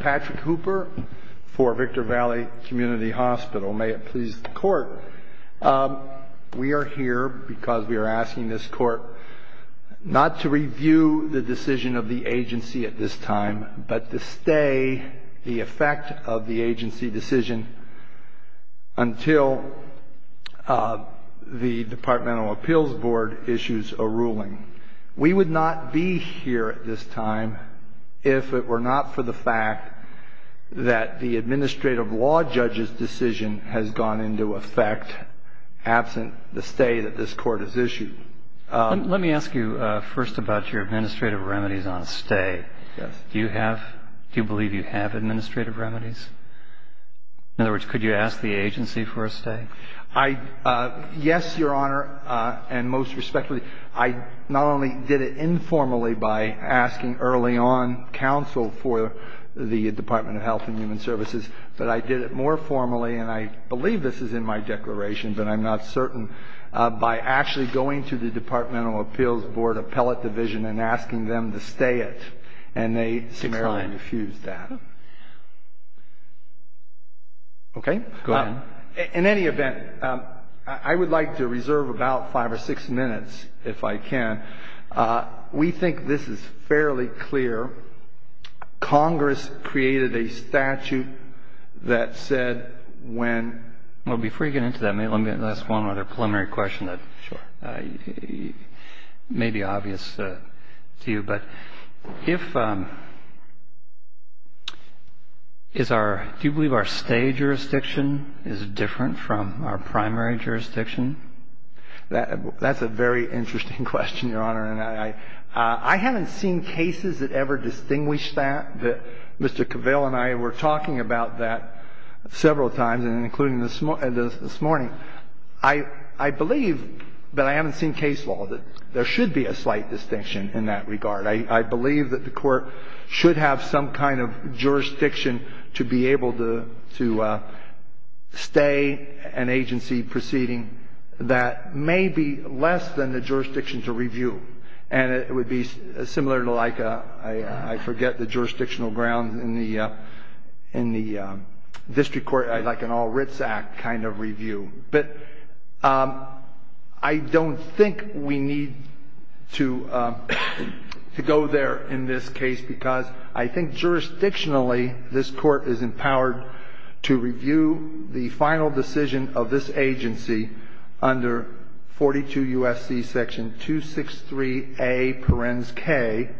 Patrick Hooper for Victor Valley Community Hospital. May it please the court. We are here because we are asking this court not to review the decision of the agency at this time, but to stay the effect of the agency decision until the departmental appeals board issues a ruling. We would not be here at this time if it were not for the fact that the administrative law judge's decision has gone into effect absent the stay that this court has issued. Let me ask you first about your administrative remedies on stay. Do you have, do you believe you have administrative remedies? In other words, could you ask the I not only did it informally by asking early on counsel for the Department of Health and Human Services, but I did it more formally, and I believe this is in my declaration, but I'm not certain, by actually going to the departmental appeals board appellate division and asking them to stay it. And they similarly refused that. Okay. Go ahead. In any event, I would like to reserve about five or six minutes, if I can. We think this is fairly clear. Congress created a statute that said when Well, before you get into that, let me ask one other preliminary question that may be obvious to you. But if, is our, do you believe that the court should have some kind of jurisdiction to be able to, to stay an agency that is not in the primary jurisdiction? That's a very interesting question, Your Honor. And I haven't seen cases that ever distinguish that, that Mr. Cavell and I were talking about that several times and including this morning. I believe, but I haven't seen case law that there should be a slight distinction in that regard. I believe that the court should have some kind of jurisdiction to be able to, to stay an agency proceeding that may be less than the jurisdiction to review. And it would be similar to like a, I forget the jurisdictional grounds in the, in the district court, like an all-writs act kind of review. But I don't think we need to, to go there in that regard. In this case, because I think jurisdictionally, this court is empowered to review the final decision of this agency under 42 U.S.C. section 263A, parens K.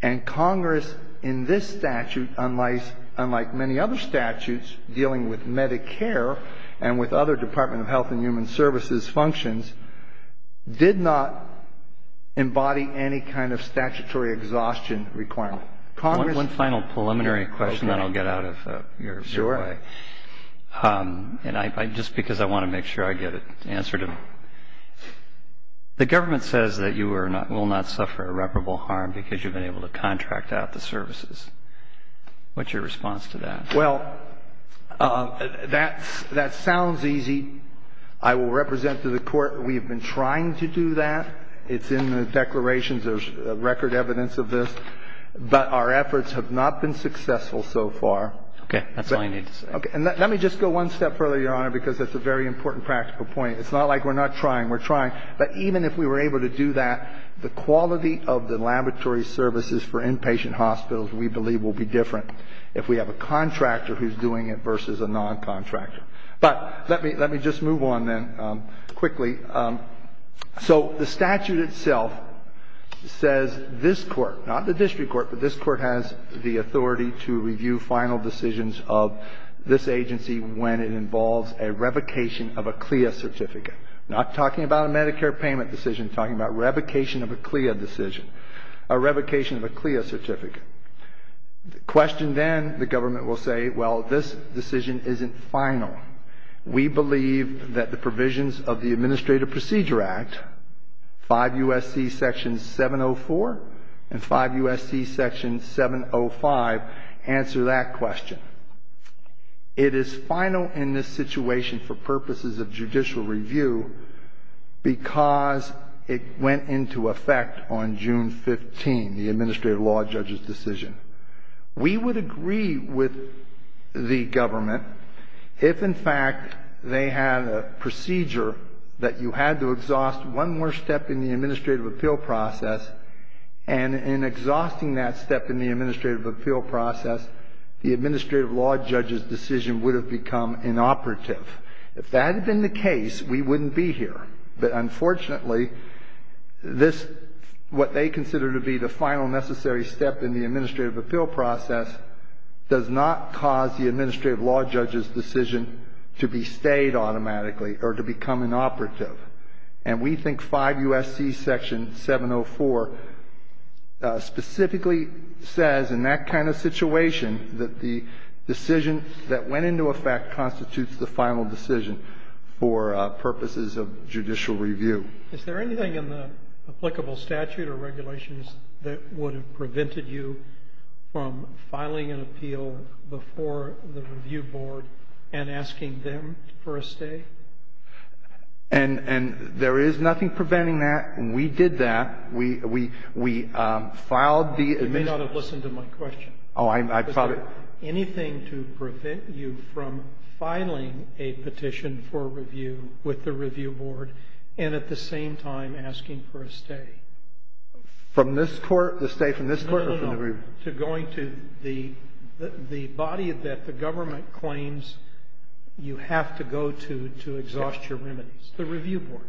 And Congress in this statute, unlike, unlike many other statutes dealing with Medicare and with other Department of Health and Human Services functions, did not embody any kind of statutory exhaustion requirement. Congress ---- One final preliminary question, then I'll get out of your way. Sure. And I, just because I want to make sure I get an answer to it. The government says that you are not, will not suffer irreparable harm because you've been able to contract out the services. What's your response to that? Well, that's, that sounds easy. I will represent to the Court we've been trying to do that. It's in the declarations. There's record evidence of this. But our efforts have not been successful so far. Okay. That's all I need to say. Okay. And let me just go one step further, Your Honor, because that's a very important practical point. It's not like we're not trying. We're trying. But even if we were able to do that, the quality of the laboratory services for inpatient hospitals, we believe, will be different if we have a contractor who's doing it versus a noncontractor. But let me, let me just move on then quickly. So the statute itself says this Court, not the district court, but this Court has the authority to review final decisions of this agency when it involves a revocation of a CLIA certificate, not talking about a Medicare payment decision, talking about revocation of a CLIA decision, a revocation of a CLIA certificate. The question then, the government will say, well, this decision isn't final. We believe that the provisions of the Administrative Procedure Act, 5 U.S.C. Section 704 and 5 U.S.C. Section 705 answer that question. It is final in this situation for purposes of judicial review because it went into effect on June 15, the administrative law judge's decision. We would agree with the government if, in fact, they had a procedure that you had to exhaust one more step in the administrative appeal process, and in exhausting that step in the administrative appeal process, the administrative law judge's decision would have become inoperative. If that had been the case, we wouldn't be here. But unfortunately, this, what they consider to be the final necessary step in the administrative appeal process, does not cause the administrative law judge's decision to be stayed automatically or to become inoperative. And we think 5 U.S.C. Section 704 specifically says, in that kind of situation, that the decision that went into effect constitutes the final decision for purposes of judicial review. Is there anything in the applicable statute or regulations that would have prevented you from filing an appeal before the review board and asking them for a stay? And there is nothing preventing that. We did that. We filed the admissions. You may not have listened to my question. Oh, I'm sorry. Is there anything to prevent you from filing a petition for review with the review board and at the same time asking for a stay? From this Court? The stay from this Court or from the review board? No, no, no. To going to the body that the government claims you have to go to to exhaust your remedies, the review board.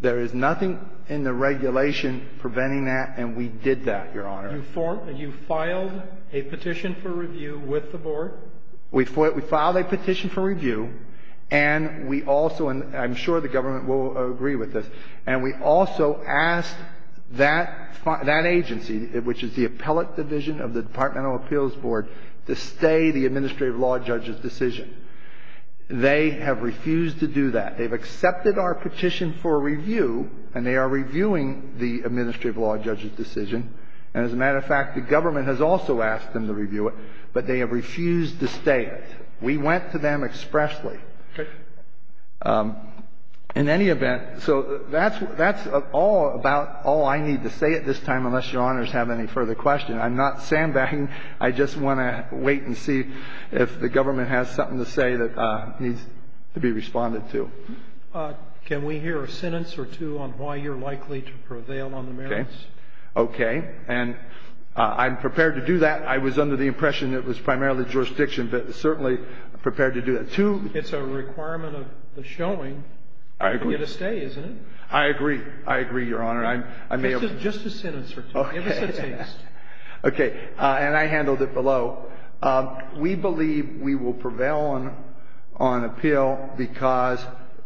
There is nothing in the regulation preventing that, and we did that, Your Honor. You filed a petition for review with the board? We filed a petition for review, and we also, and I'm sure the government will agree with this, and we also asked that agency, which is the appellate division of the Department of Appeals Board, to stay the administrative law judge's decision. They have refused to do that. They've accepted our petition for review, and they are reviewing the administrative law judge's decision. And as a matter of fact, the government has also asked them to review it, but they have refused to stay it. We went to them expressly. Okay. In any event, so that's all about all I need to say at this time, unless Your Honors have any further questions. I'm not sandbagging. I just want to wait and see if the government has something to say that needs to be responded to. Can we hear a sentence or two on why you're likely to prevail on the merits? Okay. Okay. And I'm prepared to do that. I was under the impression it was primarily jurisdiction, but certainly prepared to do that. Two ---- It's a requirement of the showing for you to stay, isn't it? I agree. I agree, Your Honor. I may have ---- Just a sentence or two. Okay. Give us a taste. Okay. And I handled it below. So we believe we will prevail on appeal because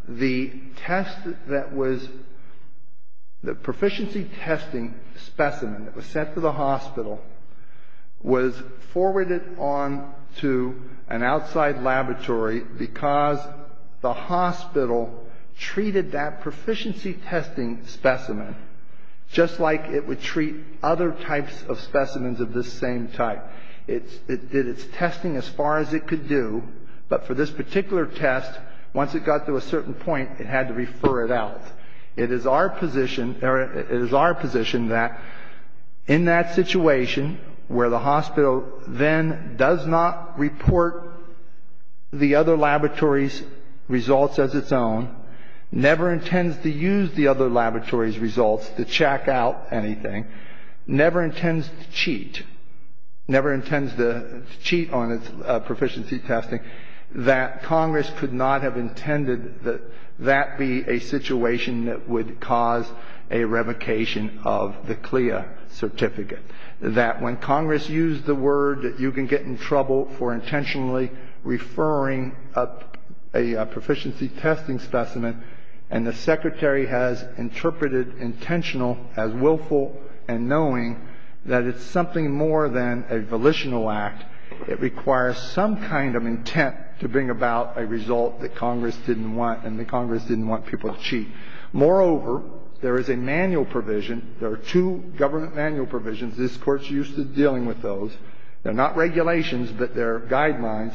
the test that was the proficiency testing specimen that was sent to the hospital was forwarded on to an outside laboratory because the hospital treated that proficiency testing specimen just like it would treat other types of specimens of this same type. It did its testing as far as it could do, but for this particular test, once it got to a certain point, it had to refer it out. It is our position that in that situation where the hospital then does not report the other laboratory's results as its own, never intends to use the other laboratory's results to check out anything, never intends to cheat, never intends to cheat on its proficiency testing, that Congress could not have intended that that be a situation that would cause a revocation of the CLIA certificate, that when Congress used the word that you can get in trouble for intentionally referring a proficiency testing specimen and the Secretary has interpreted intentional as willful and knowing that it's something more than a volitional act. It requires some kind of intent to bring about a result that Congress didn't want, and that Congress didn't want people to cheat. Moreover, there is a manual provision. There are two government manual provisions. This Court's used to dealing with those. They're not regulations, but they're guidelines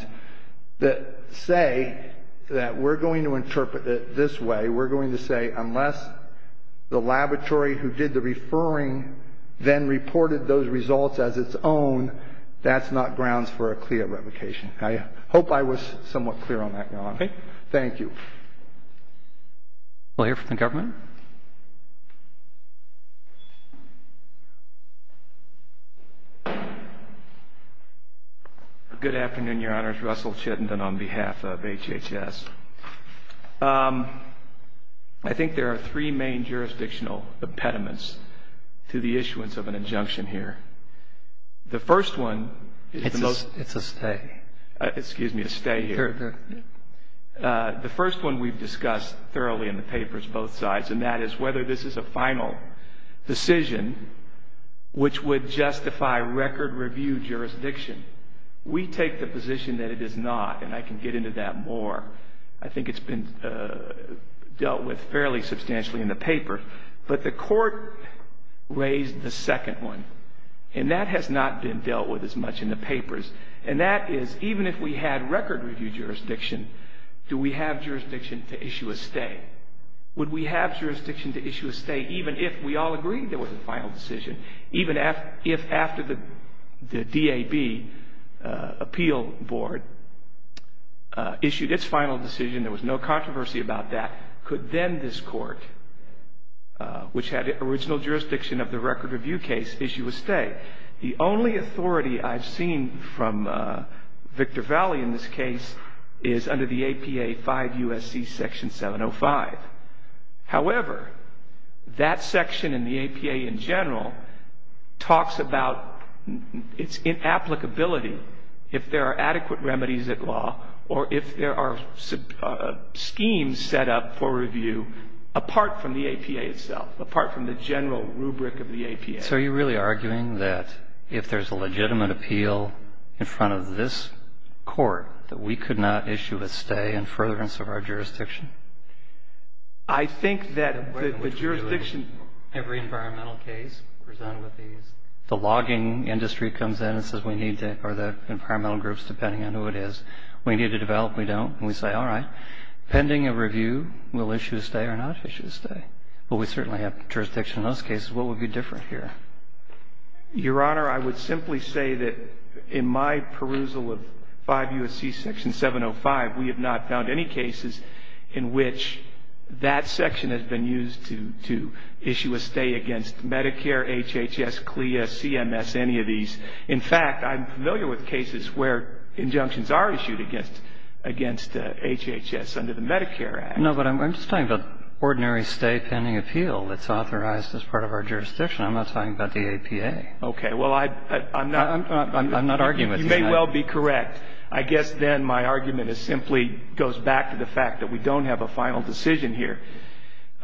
that say that we're going to interpret it this way. We're going to say unless the laboratory who did the referring then reported those results as its own, that's not grounds for a CLIA revocation. I hope I was somewhat clear on that, Your Honor. We'll hear from the government. Good afternoon, Your Honors. Russell Chittenden on behalf of HHS. I think there are three main jurisdictional impediments to the issuance of an injunction here. The first one is the most... It's a stay. Excuse me, a stay here. The first one we've discussed thoroughly in the papers, both sides, and that is whether this is a final decision which would justify record review jurisdiction. We take the position that it is not, and I can get into that more. I think it's been dealt with fairly substantially in the paper. But the Court raised the second one, and that has not been dealt with as much in the papers. And that is even if we had record review jurisdiction, do we have jurisdiction to issue a stay? Would we have jurisdiction to issue a stay even if we all agreed there was a final decision? Even if after the DAB appeal board issued its final decision, there was no controversy about that, could then this Court, which had original jurisdiction of the record review case, issue a stay? The only authority I've seen from Victor Valli in this case is under the APA 5 U.S.C. Section 705. However, that section in the APA in general talks about its inapplicability if there are adequate remedies at law or if there are schemes set up for review apart from the APA itself, apart from the general rubric of the APA. So are you really arguing that if there's a legitimate appeal in front of this Court that we could not issue a stay in furtherance of our jurisdiction? I think that the jurisdiction of every environmental case presented with these, the logging industry comes in and says we need to, or the environmental groups, depending on who it is, we need to develop. We don't. And we say, all right, pending a review, we'll issue a stay or not issue a stay. Well, we certainly have jurisdiction in those cases. What would be different here? Your Honor, I would simply say that in my perusal of 5 U.S.C. Section 705, we have not found any cases in which that section has been used to issue a stay against Medicare, HHS, CLIA, CMS, any of these. In fact, I'm familiar with cases where injunctions are issued against HHS under the Medicare Act. No, but I'm just talking about ordinary stay pending appeal. It's authorized as part of our jurisdiction. I'm not talking about the APA. Okay. Well, I'm not arguing with you. You may well be correct. I guess then my argument is simply goes back to the fact that we don't have a final decision here.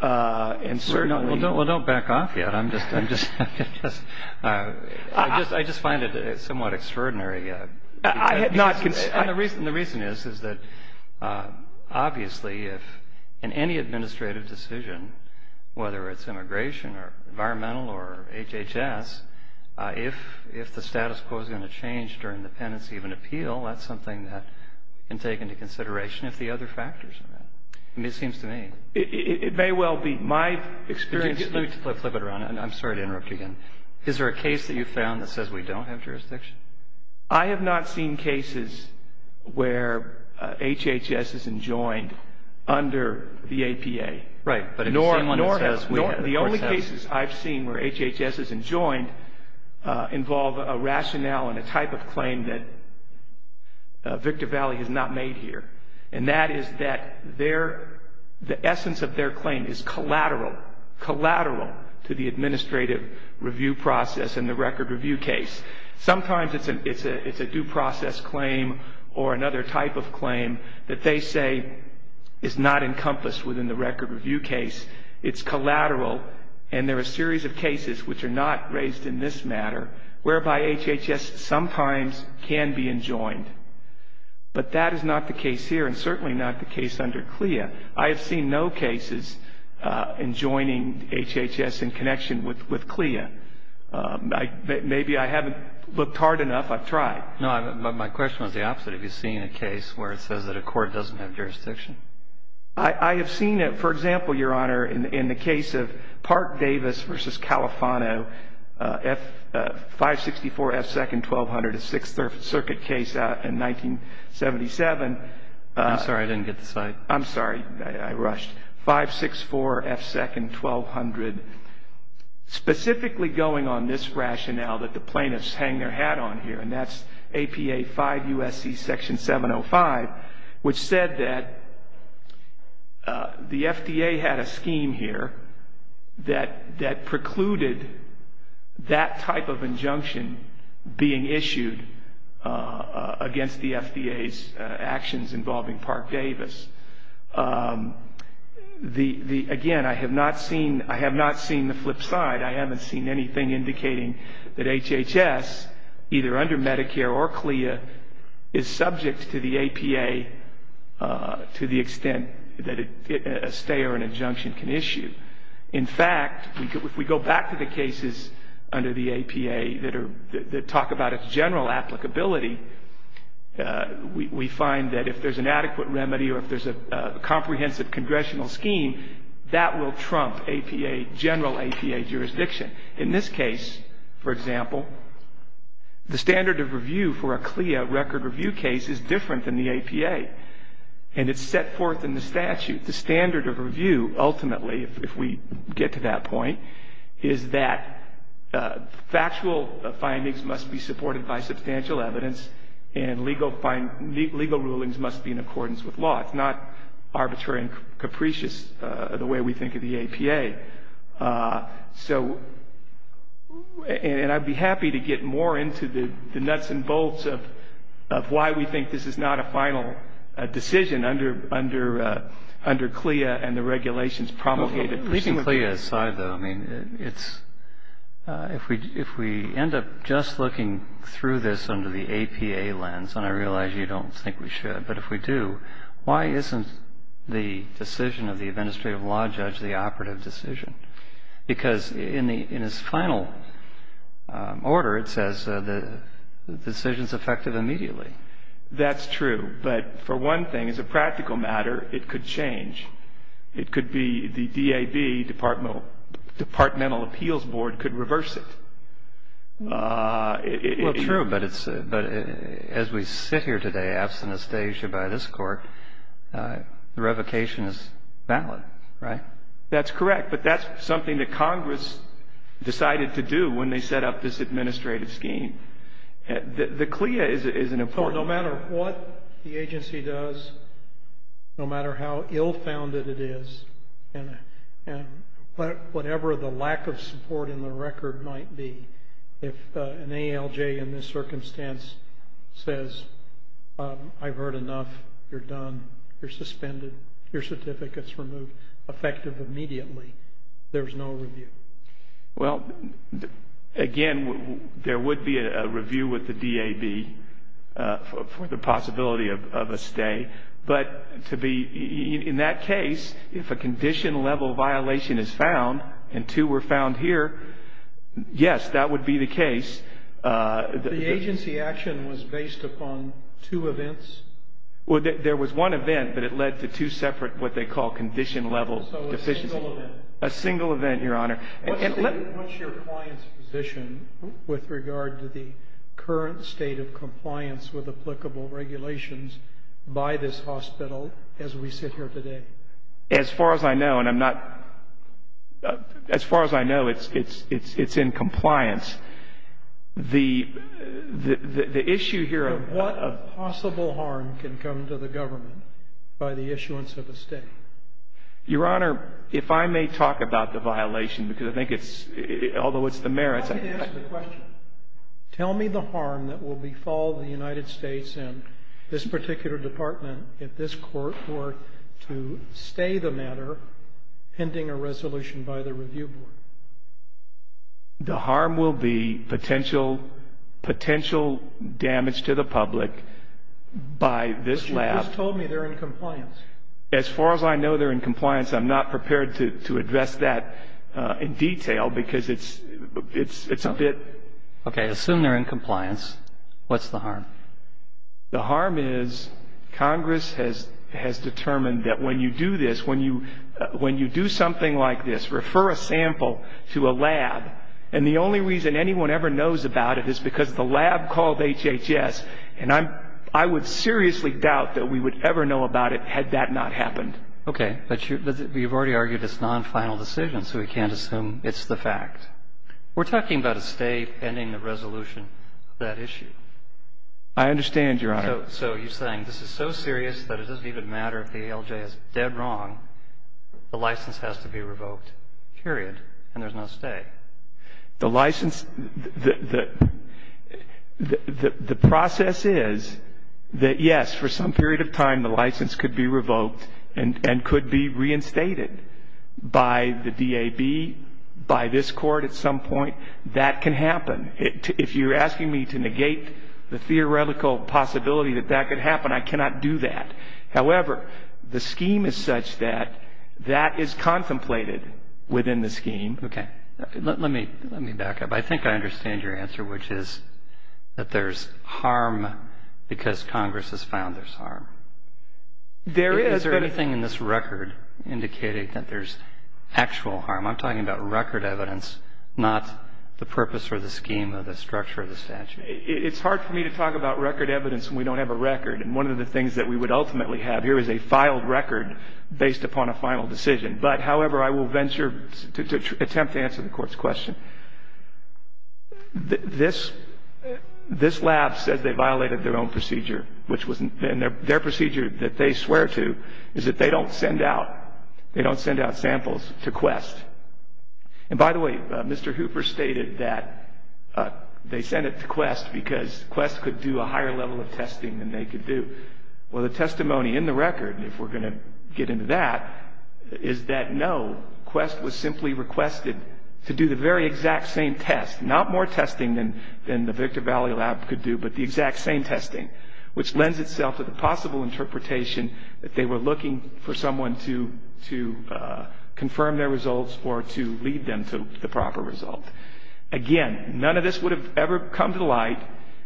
Well, don't back off yet. I just find it somewhat extraordinary. The reason is, is that obviously if in any administrative decision, whether it's immigration or environmental or HHS, if the status quo is going to change during the pendency of an appeal, that's something that can take into consideration if the other factors are met. It seems to me. It may well be. My experience Let me flip it around. I'm sorry to interrupt you again. Is there a case that you found that says we don't have jurisdiction? I have not seen cases where HHS is enjoined under the APA. Right. The only cases I've seen where HHS is enjoined involve a rationale and a type of claim that Victor Valley has not made here. And that is that the essence of their claim is collateral, collateral to the administrative review process and the record review case. Sometimes it's a due process claim or another type of claim that they say is not encompassed in the record review case. It's collateral and there are a series of cases which are not raised in this matter whereby HHS sometimes can be enjoined. But that is not the case here and certainly not the case under CLIA. I have seen no cases enjoining HHS in connection with CLIA. Maybe I haven't looked hard enough. I've tried. No. My question was the opposite. Have you seen a case where it says that a court doesn't have jurisdiction? I have seen it. For example, Your Honor, in the case of Park-Davis v. Califano, 564 F. Second 1200, a Sixth Circuit case in 1977. I'm sorry. I didn't get the slide. I'm sorry. I rushed. 564 F. Second 1200, specifically going on this rationale that the plaintiffs hang their hat on here, and that's APA 5 U.S.C. Section 705, which said that the FDA had a scheme here that precluded that type of injunction being issued against the FDA's actions involving Park-Davis. Again, I have not seen the flip side. I haven't seen anything indicating that HHS, either under Medicare or CLIA, is subject to the APA to the extent that a stay or an injunction can issue. In fact, if we go back to the cases under the APA that talk about its general applicability, we find that if there's an adequate remedy or if there's a comprehensive congressional scheme, that will trump APA, general APA jurisdiction. In this case, for example, the standard of review for a CLIA record review case is different than the APA, and it's set forth in the statute. The standard of review, ultimately, if we get to that point, is that factual findings must be supported by substantial evidence, and legal rulings must be in accordance with law. It's not arbitrary and capricious the way we think of the APA. So, and I'd be happy to get more into the nuts and bolts of why we think this is not a final decision under CLIA and the regulations promulgated. Leaving CLIA aside, though, I mean, it's, if we end up just looking through this under the APA lens, and I realize you don't think we should, but if we do, why isn't the decision of the administrative law judge the operative decision? Because in its final order, it says the decision's effective immediately. That's true, but for one thing, as a practical matter, it could change. It could be the DAB, Departmental Appeals Board, could reverse it. Well, true, but as we sit here today, absent a stage by this Court, the revocation is valid, right? That's correct, but that's something that Congress decided to do when they set up this administrative scheme. The CLIA is an important one. So no matter what the agency does, no matter how ill-founded it is, and whatever the lack of support in the record might be, if an ALJ in this circumstance says, I've heard enough, you're done, you're suspended, your certificate's removed, effective immediately, there's no review. Well, again, there would be a review with the DAB for the possibility of a stay, but in that case, if a condition-level violation is found, and two were found here, yes, that would be the case. The agency action was based upon two events? Well, there was one event, but it led to two separate what they call condition-level deficiencies. So a single event? A single event, Your Honor. What's your client's position with regard to the current state of compliance with applicable regulations by this hospital as we sit here today? As far as I know, and I'm not – as far as I know, it's in compliance. The issue here of – What possible harm can come to the government by the issuance of a stay? Your Honor, if I may talk about the violation, because I think it's – although it's the merits – I didn't ask the question. Tell me the harm that will befall the United States and this particular department if this court were to stay the matter pending a resolution by the review board. The harm will be potential – potential damage to the public by this lab. But you just told me they're in compliance. As far as I know, they're in compliance. I'm not prepared to address that in detail because it's a bit – Okay. Assume they're in compliance. What's the harm? The harm is Congress has determined that when you do this, when you do something like this, refer a sample to a lab. And the only reason anyone ever knows about it is because the lab called HHS. And I would seriously doubt that we would ever know about it had that not happened. Okay. But you've already argued it's non-final decision, so we can't assume it's the fact. We're talking about a stay pending the resolution of that issue. I understand, Your Honor. So you're saying this is so serious that it doesn't even matter if the ALJ is dead wrong, the license has to be revoked, period, and there's no stay. The license – the process is that, yes, for some period of time the license could be revoked and could be reinstated by the DAB, by this court at some point. That can happen. If you're asking me to negate the theoretical possibility that that could happen, I cannot do that. However, the scheme is such that that is contemplated within the scheme. Okay. Let me back up. I think I understand your answer, which is that there's harm because Congress has found there's harm. Is there anything in this record indicating that there's actual harm? I'm talking about record evidence, not the purpose or the scheme or the structure of the statute. It's hard for me to talk about record evidence when we don't have a record. And one of the things that we would ultimately have here is a filed record based upon a final decision. But, however, I will venture to attempt to answer the Court's question. This lab says they violated their own procedure. And their procedure that they swear to is that they don't send out samples to Quest. And, by the way, Mr. Hooper stated that they sent it to Quest because Quest could do a higher level of testing than they could do. Well, the testimony in the record, if we're going to get into that, is that, no, Quest was simply requested to do the very exact same test. Not more testing than the Victor Valley Lab could do, but the exact same testing, which lends itself to the possible interpretation that they were looking for someone to confirm their results or to lead them to the proper result. Again, none of this would have ever come to light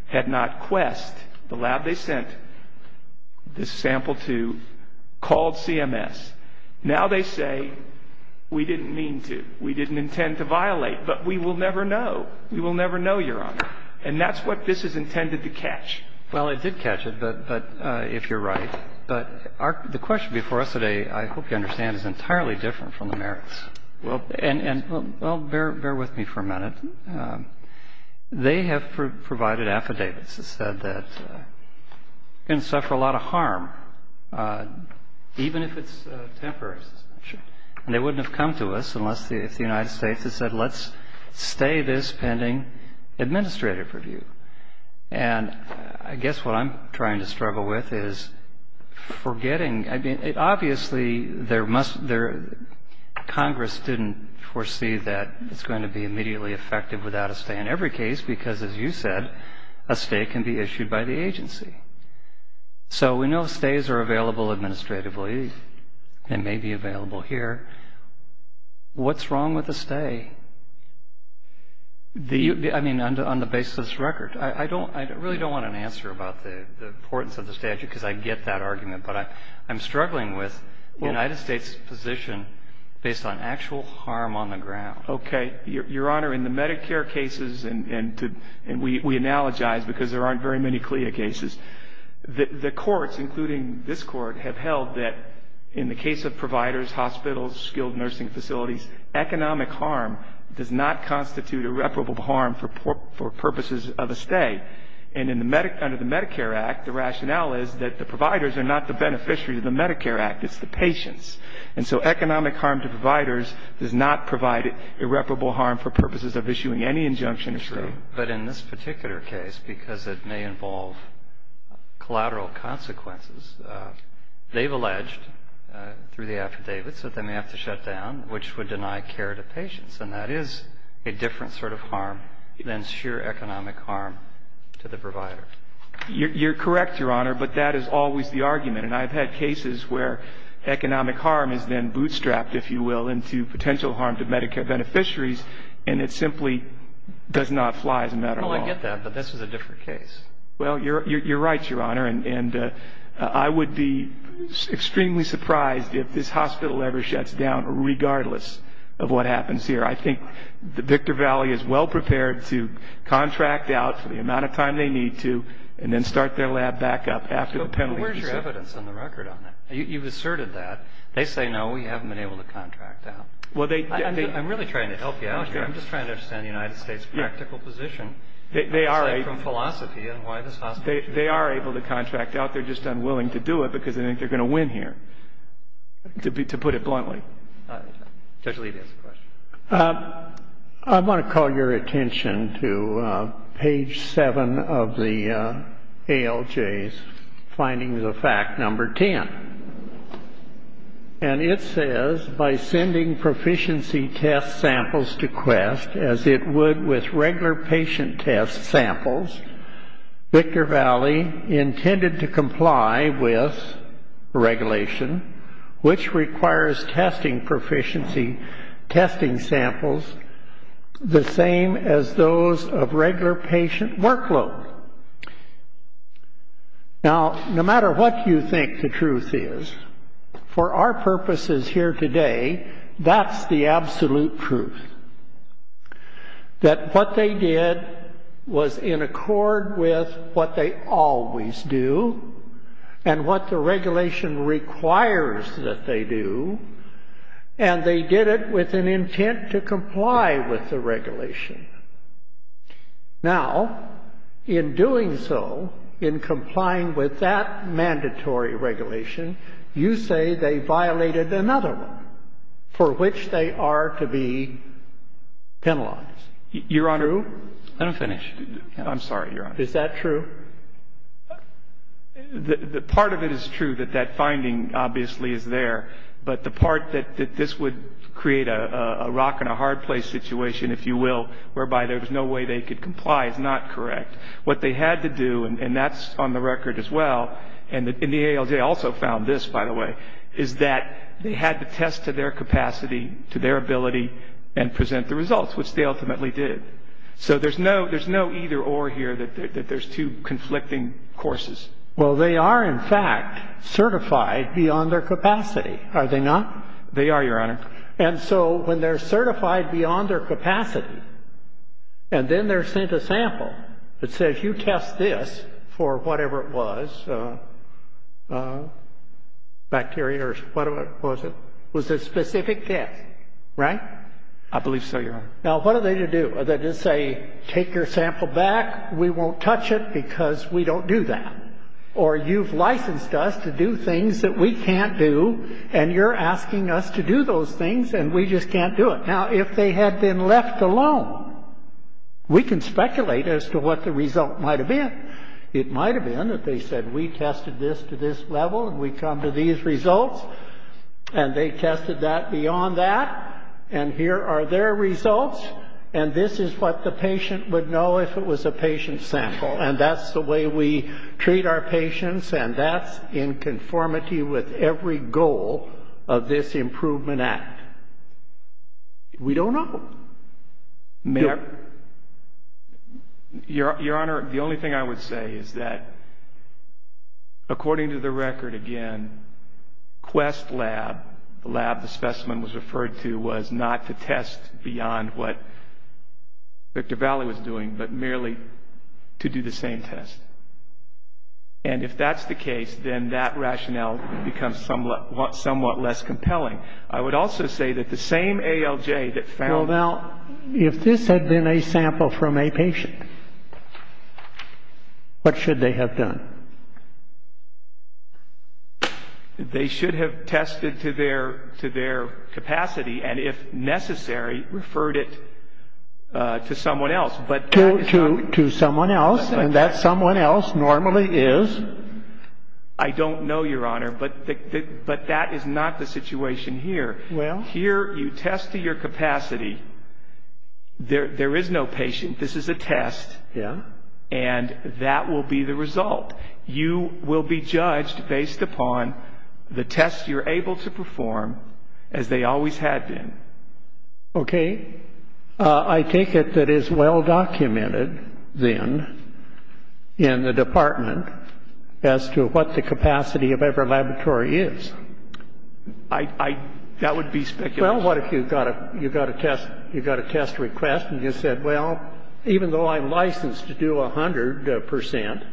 had not Quest, the lab they sent this sample to, called CMS. Now they say, we didn't mean to, we didn't intend to violate, but we will never know. We will never know, Your Honor. And that's what this is intended to catch. Well, it did catch it, if you're right. But the question before us today, I hope you understand, is entirely different from the merits. And, well, bear with me for a minute. They have provided affidavits that said that you can suffer a lot of harm, even if it's temporary suspension. And they wouldn't have come to us unless the United States had said, let's stay this pending administrative review. And I guess what I'm trying to struggle with is forgetting, I mean, obviously Congress didn't foresee that it's going to be immediately effective without a stay in every case, because, as you said, a stay can be issued by the agency. So we know stays are available administratively. They may be available here. What's wrong with a stay? I mean, on the basis of this record. I really don't want an answer about the importance of the statute, because I get that argument. But I'm struggling with the United States' position based on actual harm on the ground. Okay. Your Honor, in the Medicare cases, and we analogize because there aren't very many CLIA cases, the courts, including this Court, have held that in the case of providers, hospitals, skilled nursing facilities, economic harm does not constitute irreparable harm for purposes of a stay. And under the Medicare Act, the rationale is that the providers are not the beneficiary of the Medicare Act. It's the patients. And so economic harm to providers does not provide irreparable harm for purposes of issuing any injunction. It's true. But in this particular case, because it may involve collateral consequences, they've alleged through the affidavits that they may have to shut down, which would deny care to patients. And that is a different sort of harm than sheer economic harm to the provider. You're correct, Your Honor, but that is always the argument. And I've had cases where economic harm is then bootstrapped, if you will, into potential harm to Medicare beneficiaries, and it simply does not fly as a matter of law. Well, I get that, but this is a different case. Well, you're right, Your Honor, and I would be extremely surprised if this hospital ever shuts down, regardless of what happens here. I think that Victor Valley is well prepared to contract out for the amount of time they need to and then start their lab back up after the penalty has been set. But where's your evidence in the record on that? You've asserted that. They say, no, we haven't been able to contract out. I'm really trying to help you out here. I'm just trying to understand the United States' practical position, aside from philosophy and why this hospital should be shut down. They are able to contract out. They're just unwilling to do it because they think they're going to win here, to put it bluntly. Judge Levy has a question. I want to call your attention to page 7 of the ALJ's findings of fact number 10. And it says, by sending proficiency test samples to Quest, as it would with regular patient test samples, Victor Valley intended to comply with regulation, which requires testing proficiency testing samples, the same as those of regular patient workload. Now, no matter what you think the truth is, for our purposes here today, that's the absolute truth, that what they did was in accord with what they always do and what the regulation requires that they do, and they did it with an intent to comply with the regulation. Now, in doing so, in complying with that mandatory regulation, you say they violated another one for which they are to be penalized. Your Honor. I'm finished. I'm sorry, Your Honor. Is that true? The part of it is true that that finding obviously is there, but the part that this would create a rock-and-a-hard-place situation, if you will, whereby there was no way they could comply is not correct. What they had to do, and that's on the record as well, and the ALJ also found this, by the way, is that they had to test to their capacity, to their ability, and present the results, which they ultimately did. So there's no either-or here, that there's two conflicting courses. Well, they are, in fact, certified beyond their capacity, are they not? They are, Your Honor. And so when they're certified beyond their capacity and then they're sent a sample that says, you test this for whatever it was, bacteria or whatever it was, it was a specific test, right? I believe so, Your Honor. Now, what are they to do? Are they to say, take your sample back, we won't touch it because we don't do that, or you've licensed us to do things that we can't do and you're asking us to do those things and we just can't do it? Now, if they had been left alone, we can speculate as to what the result might have been. It might have been that they said, we tested this to this level and we come to these results, and they tested that beyond that, and here are their results, and this is what the patient would know if it was a patient sample, and that's the way we treat our patients and that's in conformity with every goal of this Improvement Act. We don't know. Your Honor, the only thing I would say is that, according to the record, again, Quest Lab, the lab the specimen was referred to, was not to test beyond what Victor Valli was doing, but merely to do the same test, and if that's the case, then that rationale becomes somewhat less compelling. I would also say that the same ALJ that found- Well, now, if this had been a sample from a patient, what should they have done? They should have tested to their capacity and, if necessary, referred it to someone else, but- To someone else, and that someone else normally is- Here, you test to your capacity. There is no patient. This is a test, and that will be the result. You will be judged based upon the test you're able to perform, as they always had been. Okay. I take it that it's well-documented, then, in the department, as to what the capacity of every laboratory is. That would be speculative. Well, what if you got a test request and you said, well, even though I'm licensed to do 100 percent,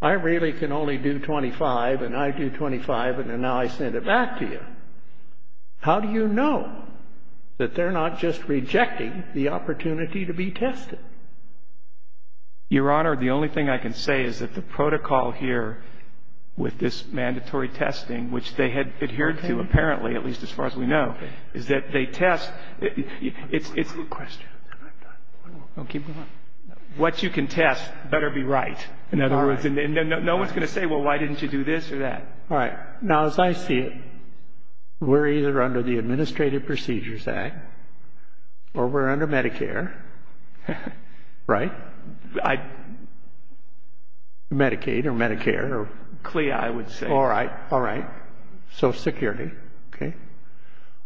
I really can only do 25, and I do 25, and now I send it back to you. How do you know that they're not just rejecting the opportunity to be tested? Your Honor, the only thing I can say is that the protocol here with this mandatory testing, which they had adhered to, apparently, at least as far as we know, is that they test- Question. Don't keep going. What you can test better be right. In other words, no one's going to say, well, why didn't you do this or that? All right. Now, as I see it, we're either under the Administrative Procedures Act, or we're under Medicare, right? Medicaid or Medicare or CLIA, I would say. All right. All right. Social Security. Okay.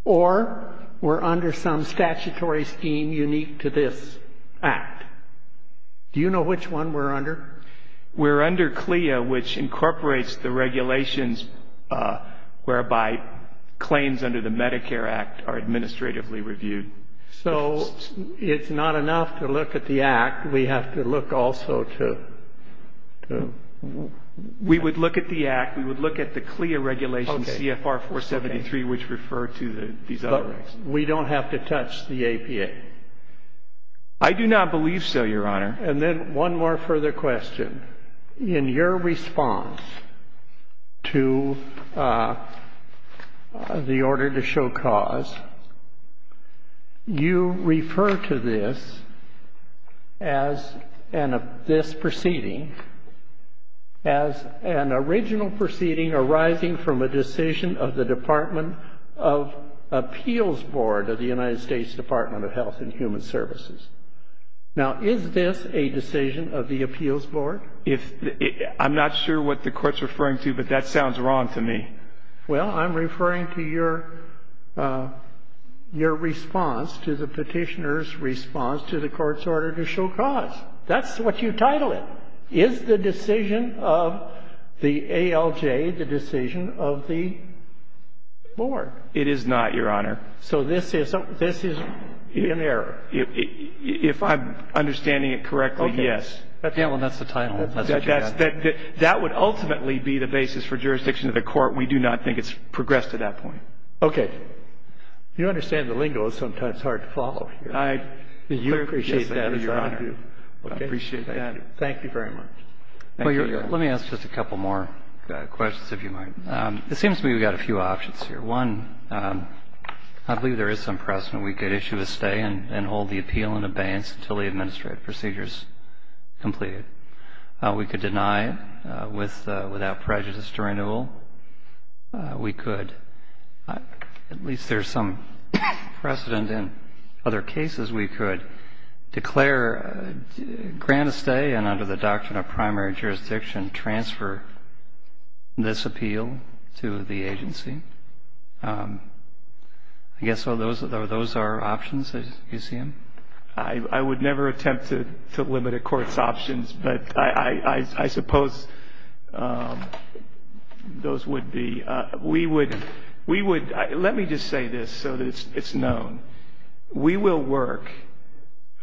Or we're under some statutory scheme unique to this act. Do you know which one we're under? We're under CLIA, which incorporates the regulations whereby claims under the Medicare Act are administratively reviewed. So it's not enough to look at the act. We have to look also to the- We would look at the act. We would look at the CLIA regulations, CFR 473, which refer to these other acts. But we don't have to touch the APA. I do not believe so, Your Honor. And then one more further question. In your response to the order to show cause, you refer to this as this proceeding as an original proceeding arising from a decision of the Department of Appeals Board of the United States Department of Health and Human Services. Now, is this a decision of the appeals board? I'm not sure what the Court's referring to, but that sounds wrong to me. Well, I'm referring to your response to the Petitioner's response to the Court's order to show cause. That's what you title it. Is the decision of the ALJ the decision of the board? It is not, Your Honor. So this is an error. If I'm understanding it correctly, yes. Well, that's the title. That would ultimately be the basis for jurisdiction of the Court. We do not think it's progressed to that point. Okay. You understand the lingo is sometimes hard to follow. I do appreciate that, Your Honor. I appreciate that. Thank you very much. Thank you, Your Honor. Let me ask just a couple more questions, if you might. It seems to me we've got a few options here. One, I believe there is some precedent. We could issue a stay and hold the appeal in abeyance until the administrative procedure is completed. We could deny without prejudice to renewal. We could. At least there's some precedent in other cases. We could declare grant a stay and under the doctrine of primary jurisdiction transfer this appeal to the agency. I guess those are options, as you see them. I would never attempt to limit a court's options, but I suppose those would be. We would. Let me just say this so that it's known. We will work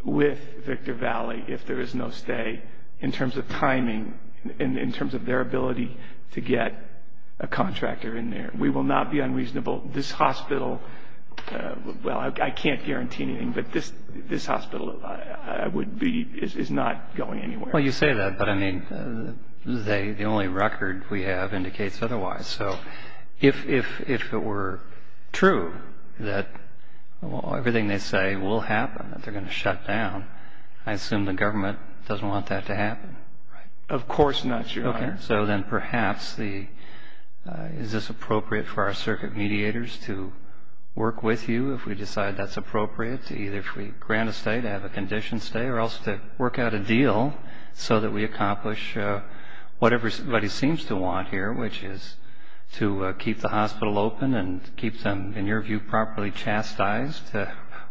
with Victor Valley if there is no stay in terms of timing, in terms of their ability to get a contractor in there. We will not be unreasonable. This hospital, well, I can't guarantee anything, but this hospital is not going anywhere. Well, you say that, but, I mean, the only record we have indicates otherwise. So if it were true that everything they say will happen, that they're going to shut down, I assume the government doesn't want that to happen. Of course not, Your Honor. Okay. So then perhaps is this appropriate for our circuit mediators to work with you if we decide that's appropriate, either if we grant a stay, to have a condition stay, or else to work out a deal so that we accomplish whatever somebody seems to want here, which is to keep the hospital open and keep them, in your view, properly chastised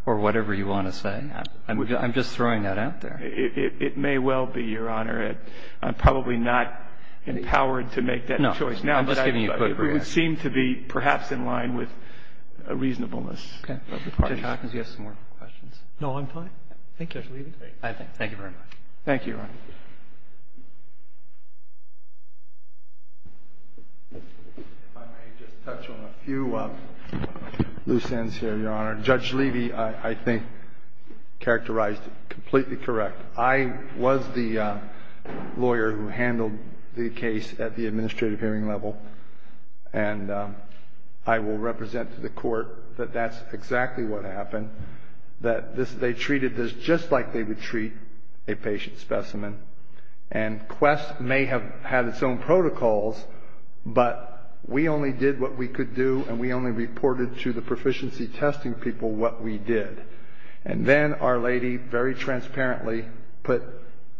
or whatever you want to say? I'm just throwing that out there. It may well be, Your Honor. I'm probably not empowered to make that choice now. No. I'm just giving you a quick reaction. It would seem to be perhaps in line with reasonableness of the parties. Judge Hawkins, you have some more questions. No, I'm fine. Thank you, Judge Levy. Thank you very much. Thank you, Your Honor. If I may just touch on a few loose ends here, Your Honor. Judge Levy, I think, characterized it completely correct. I was the lawyer who handled the case at the administrative hearing level, and I will represent to the Court that that's exactly what happened, that they treated this just like they would treat a patient specimen. And Quest may have had its own protocols, but we only did what we could do, and we only reported to the proficiency testing people what we did. And then Our Lady very transparently put,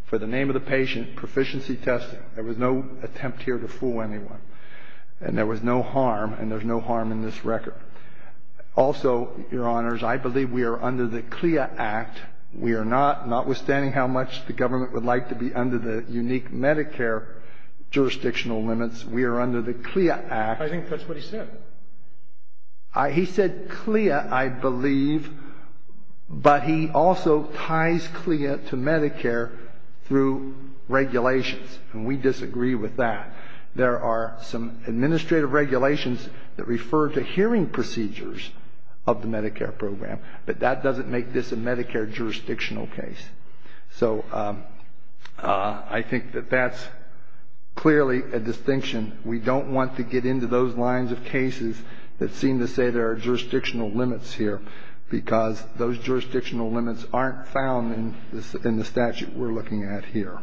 for the name of the patient, proficiency testing. There was no attempt here to fool anyone. And there was no harm, and there's no harm in this record. Also, Your Honors, I believe we are under the CLIA Act. We are not, notwithstanding how much the government would like to be under the unique Medicare jurisdictional limits, we are under the CLIA Act. I think that's what he said. He said CLIA, I believe, but he also ties CLIA to Medicare through regulations, and we disagree with that. There are some administrative regulations that refer to hearing procedures of the Medicare program, but that doesn't make this a Medicare jurisdictional case. So I think that that's clearly a distinction. We don't want to get into those lines of cases that seem to say there are jurisdictional limits here, because those jurisdictional limits aren't found in the statute we're looking at here.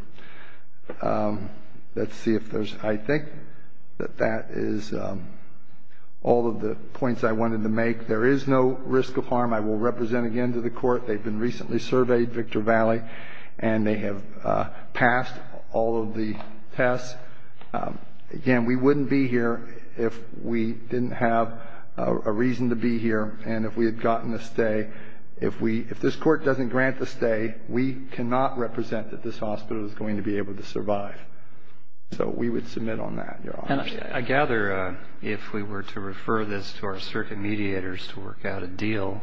Let's see if there's, I think that that is all of the points I wanted to make. There is no risk of harm. I will represent again to the Court. They've been recently surveyed, Victor Valley, and they have passed all of the tests. Again, we wouldn't be here if we didn't have a reason to be here and if we had gotten a stay. If this Court doesn't grant the stay, we cannot represent that this hospital is going to be able to survive. So we would submit on that, Your Honor. And I gather if we were to refer this to our circuit mediators to work out a deal,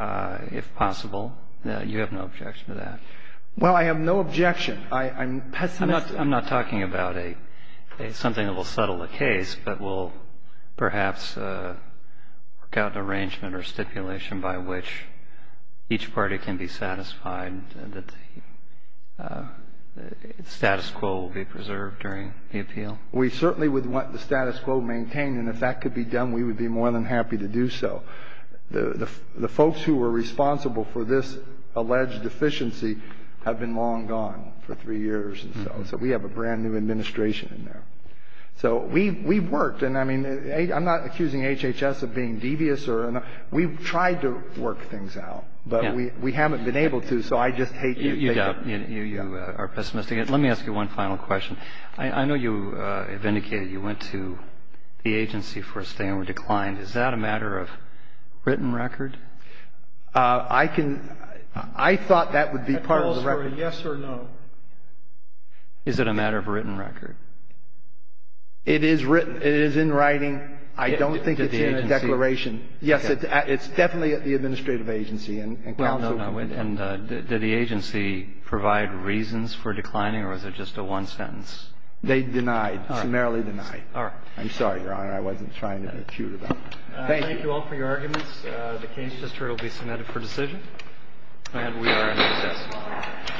if possible, you have no objection to that. Well, I have no objection. I'm pessimistic. I'm not talking about something that will settle the case, but will perhaps work out an arrangement or stipulation by which each party can be satisfied that the status quo will be preserved during the appeal. We certainly would want the status quo maintained. And if that could be done, we would be more than happy to do so. The folks who were responsible for this alleged deficiency have been long gone for three years. So we have a brand-new administration in there. So we've worked. And, I mean, I'm not accusing HHS of being devious. We've tried to work things out. But we haven't been able to, so I just hate you. You doubt. You are pessimistic. Let me ask you one final question. I know you have indicated you went to the agency for a stay and were declined. Is that a matter of written record? I can – I thought that would be part of the record. Yes or no. Is it a matter of written record? It is written. It is in writing. I don't think it's in the declaration. Yes, it's definitely at the administrative agency and counsel. No, no. And did the agency provide reasons for declining or was it just a one sentence? They denied. All right. Summarily denied. All right. I'm sorry, Your Honor. I wasn't trying to be acute about that. Thank you. Thank you all for your arguments. The case just will be submitted for decision. And we are in recess.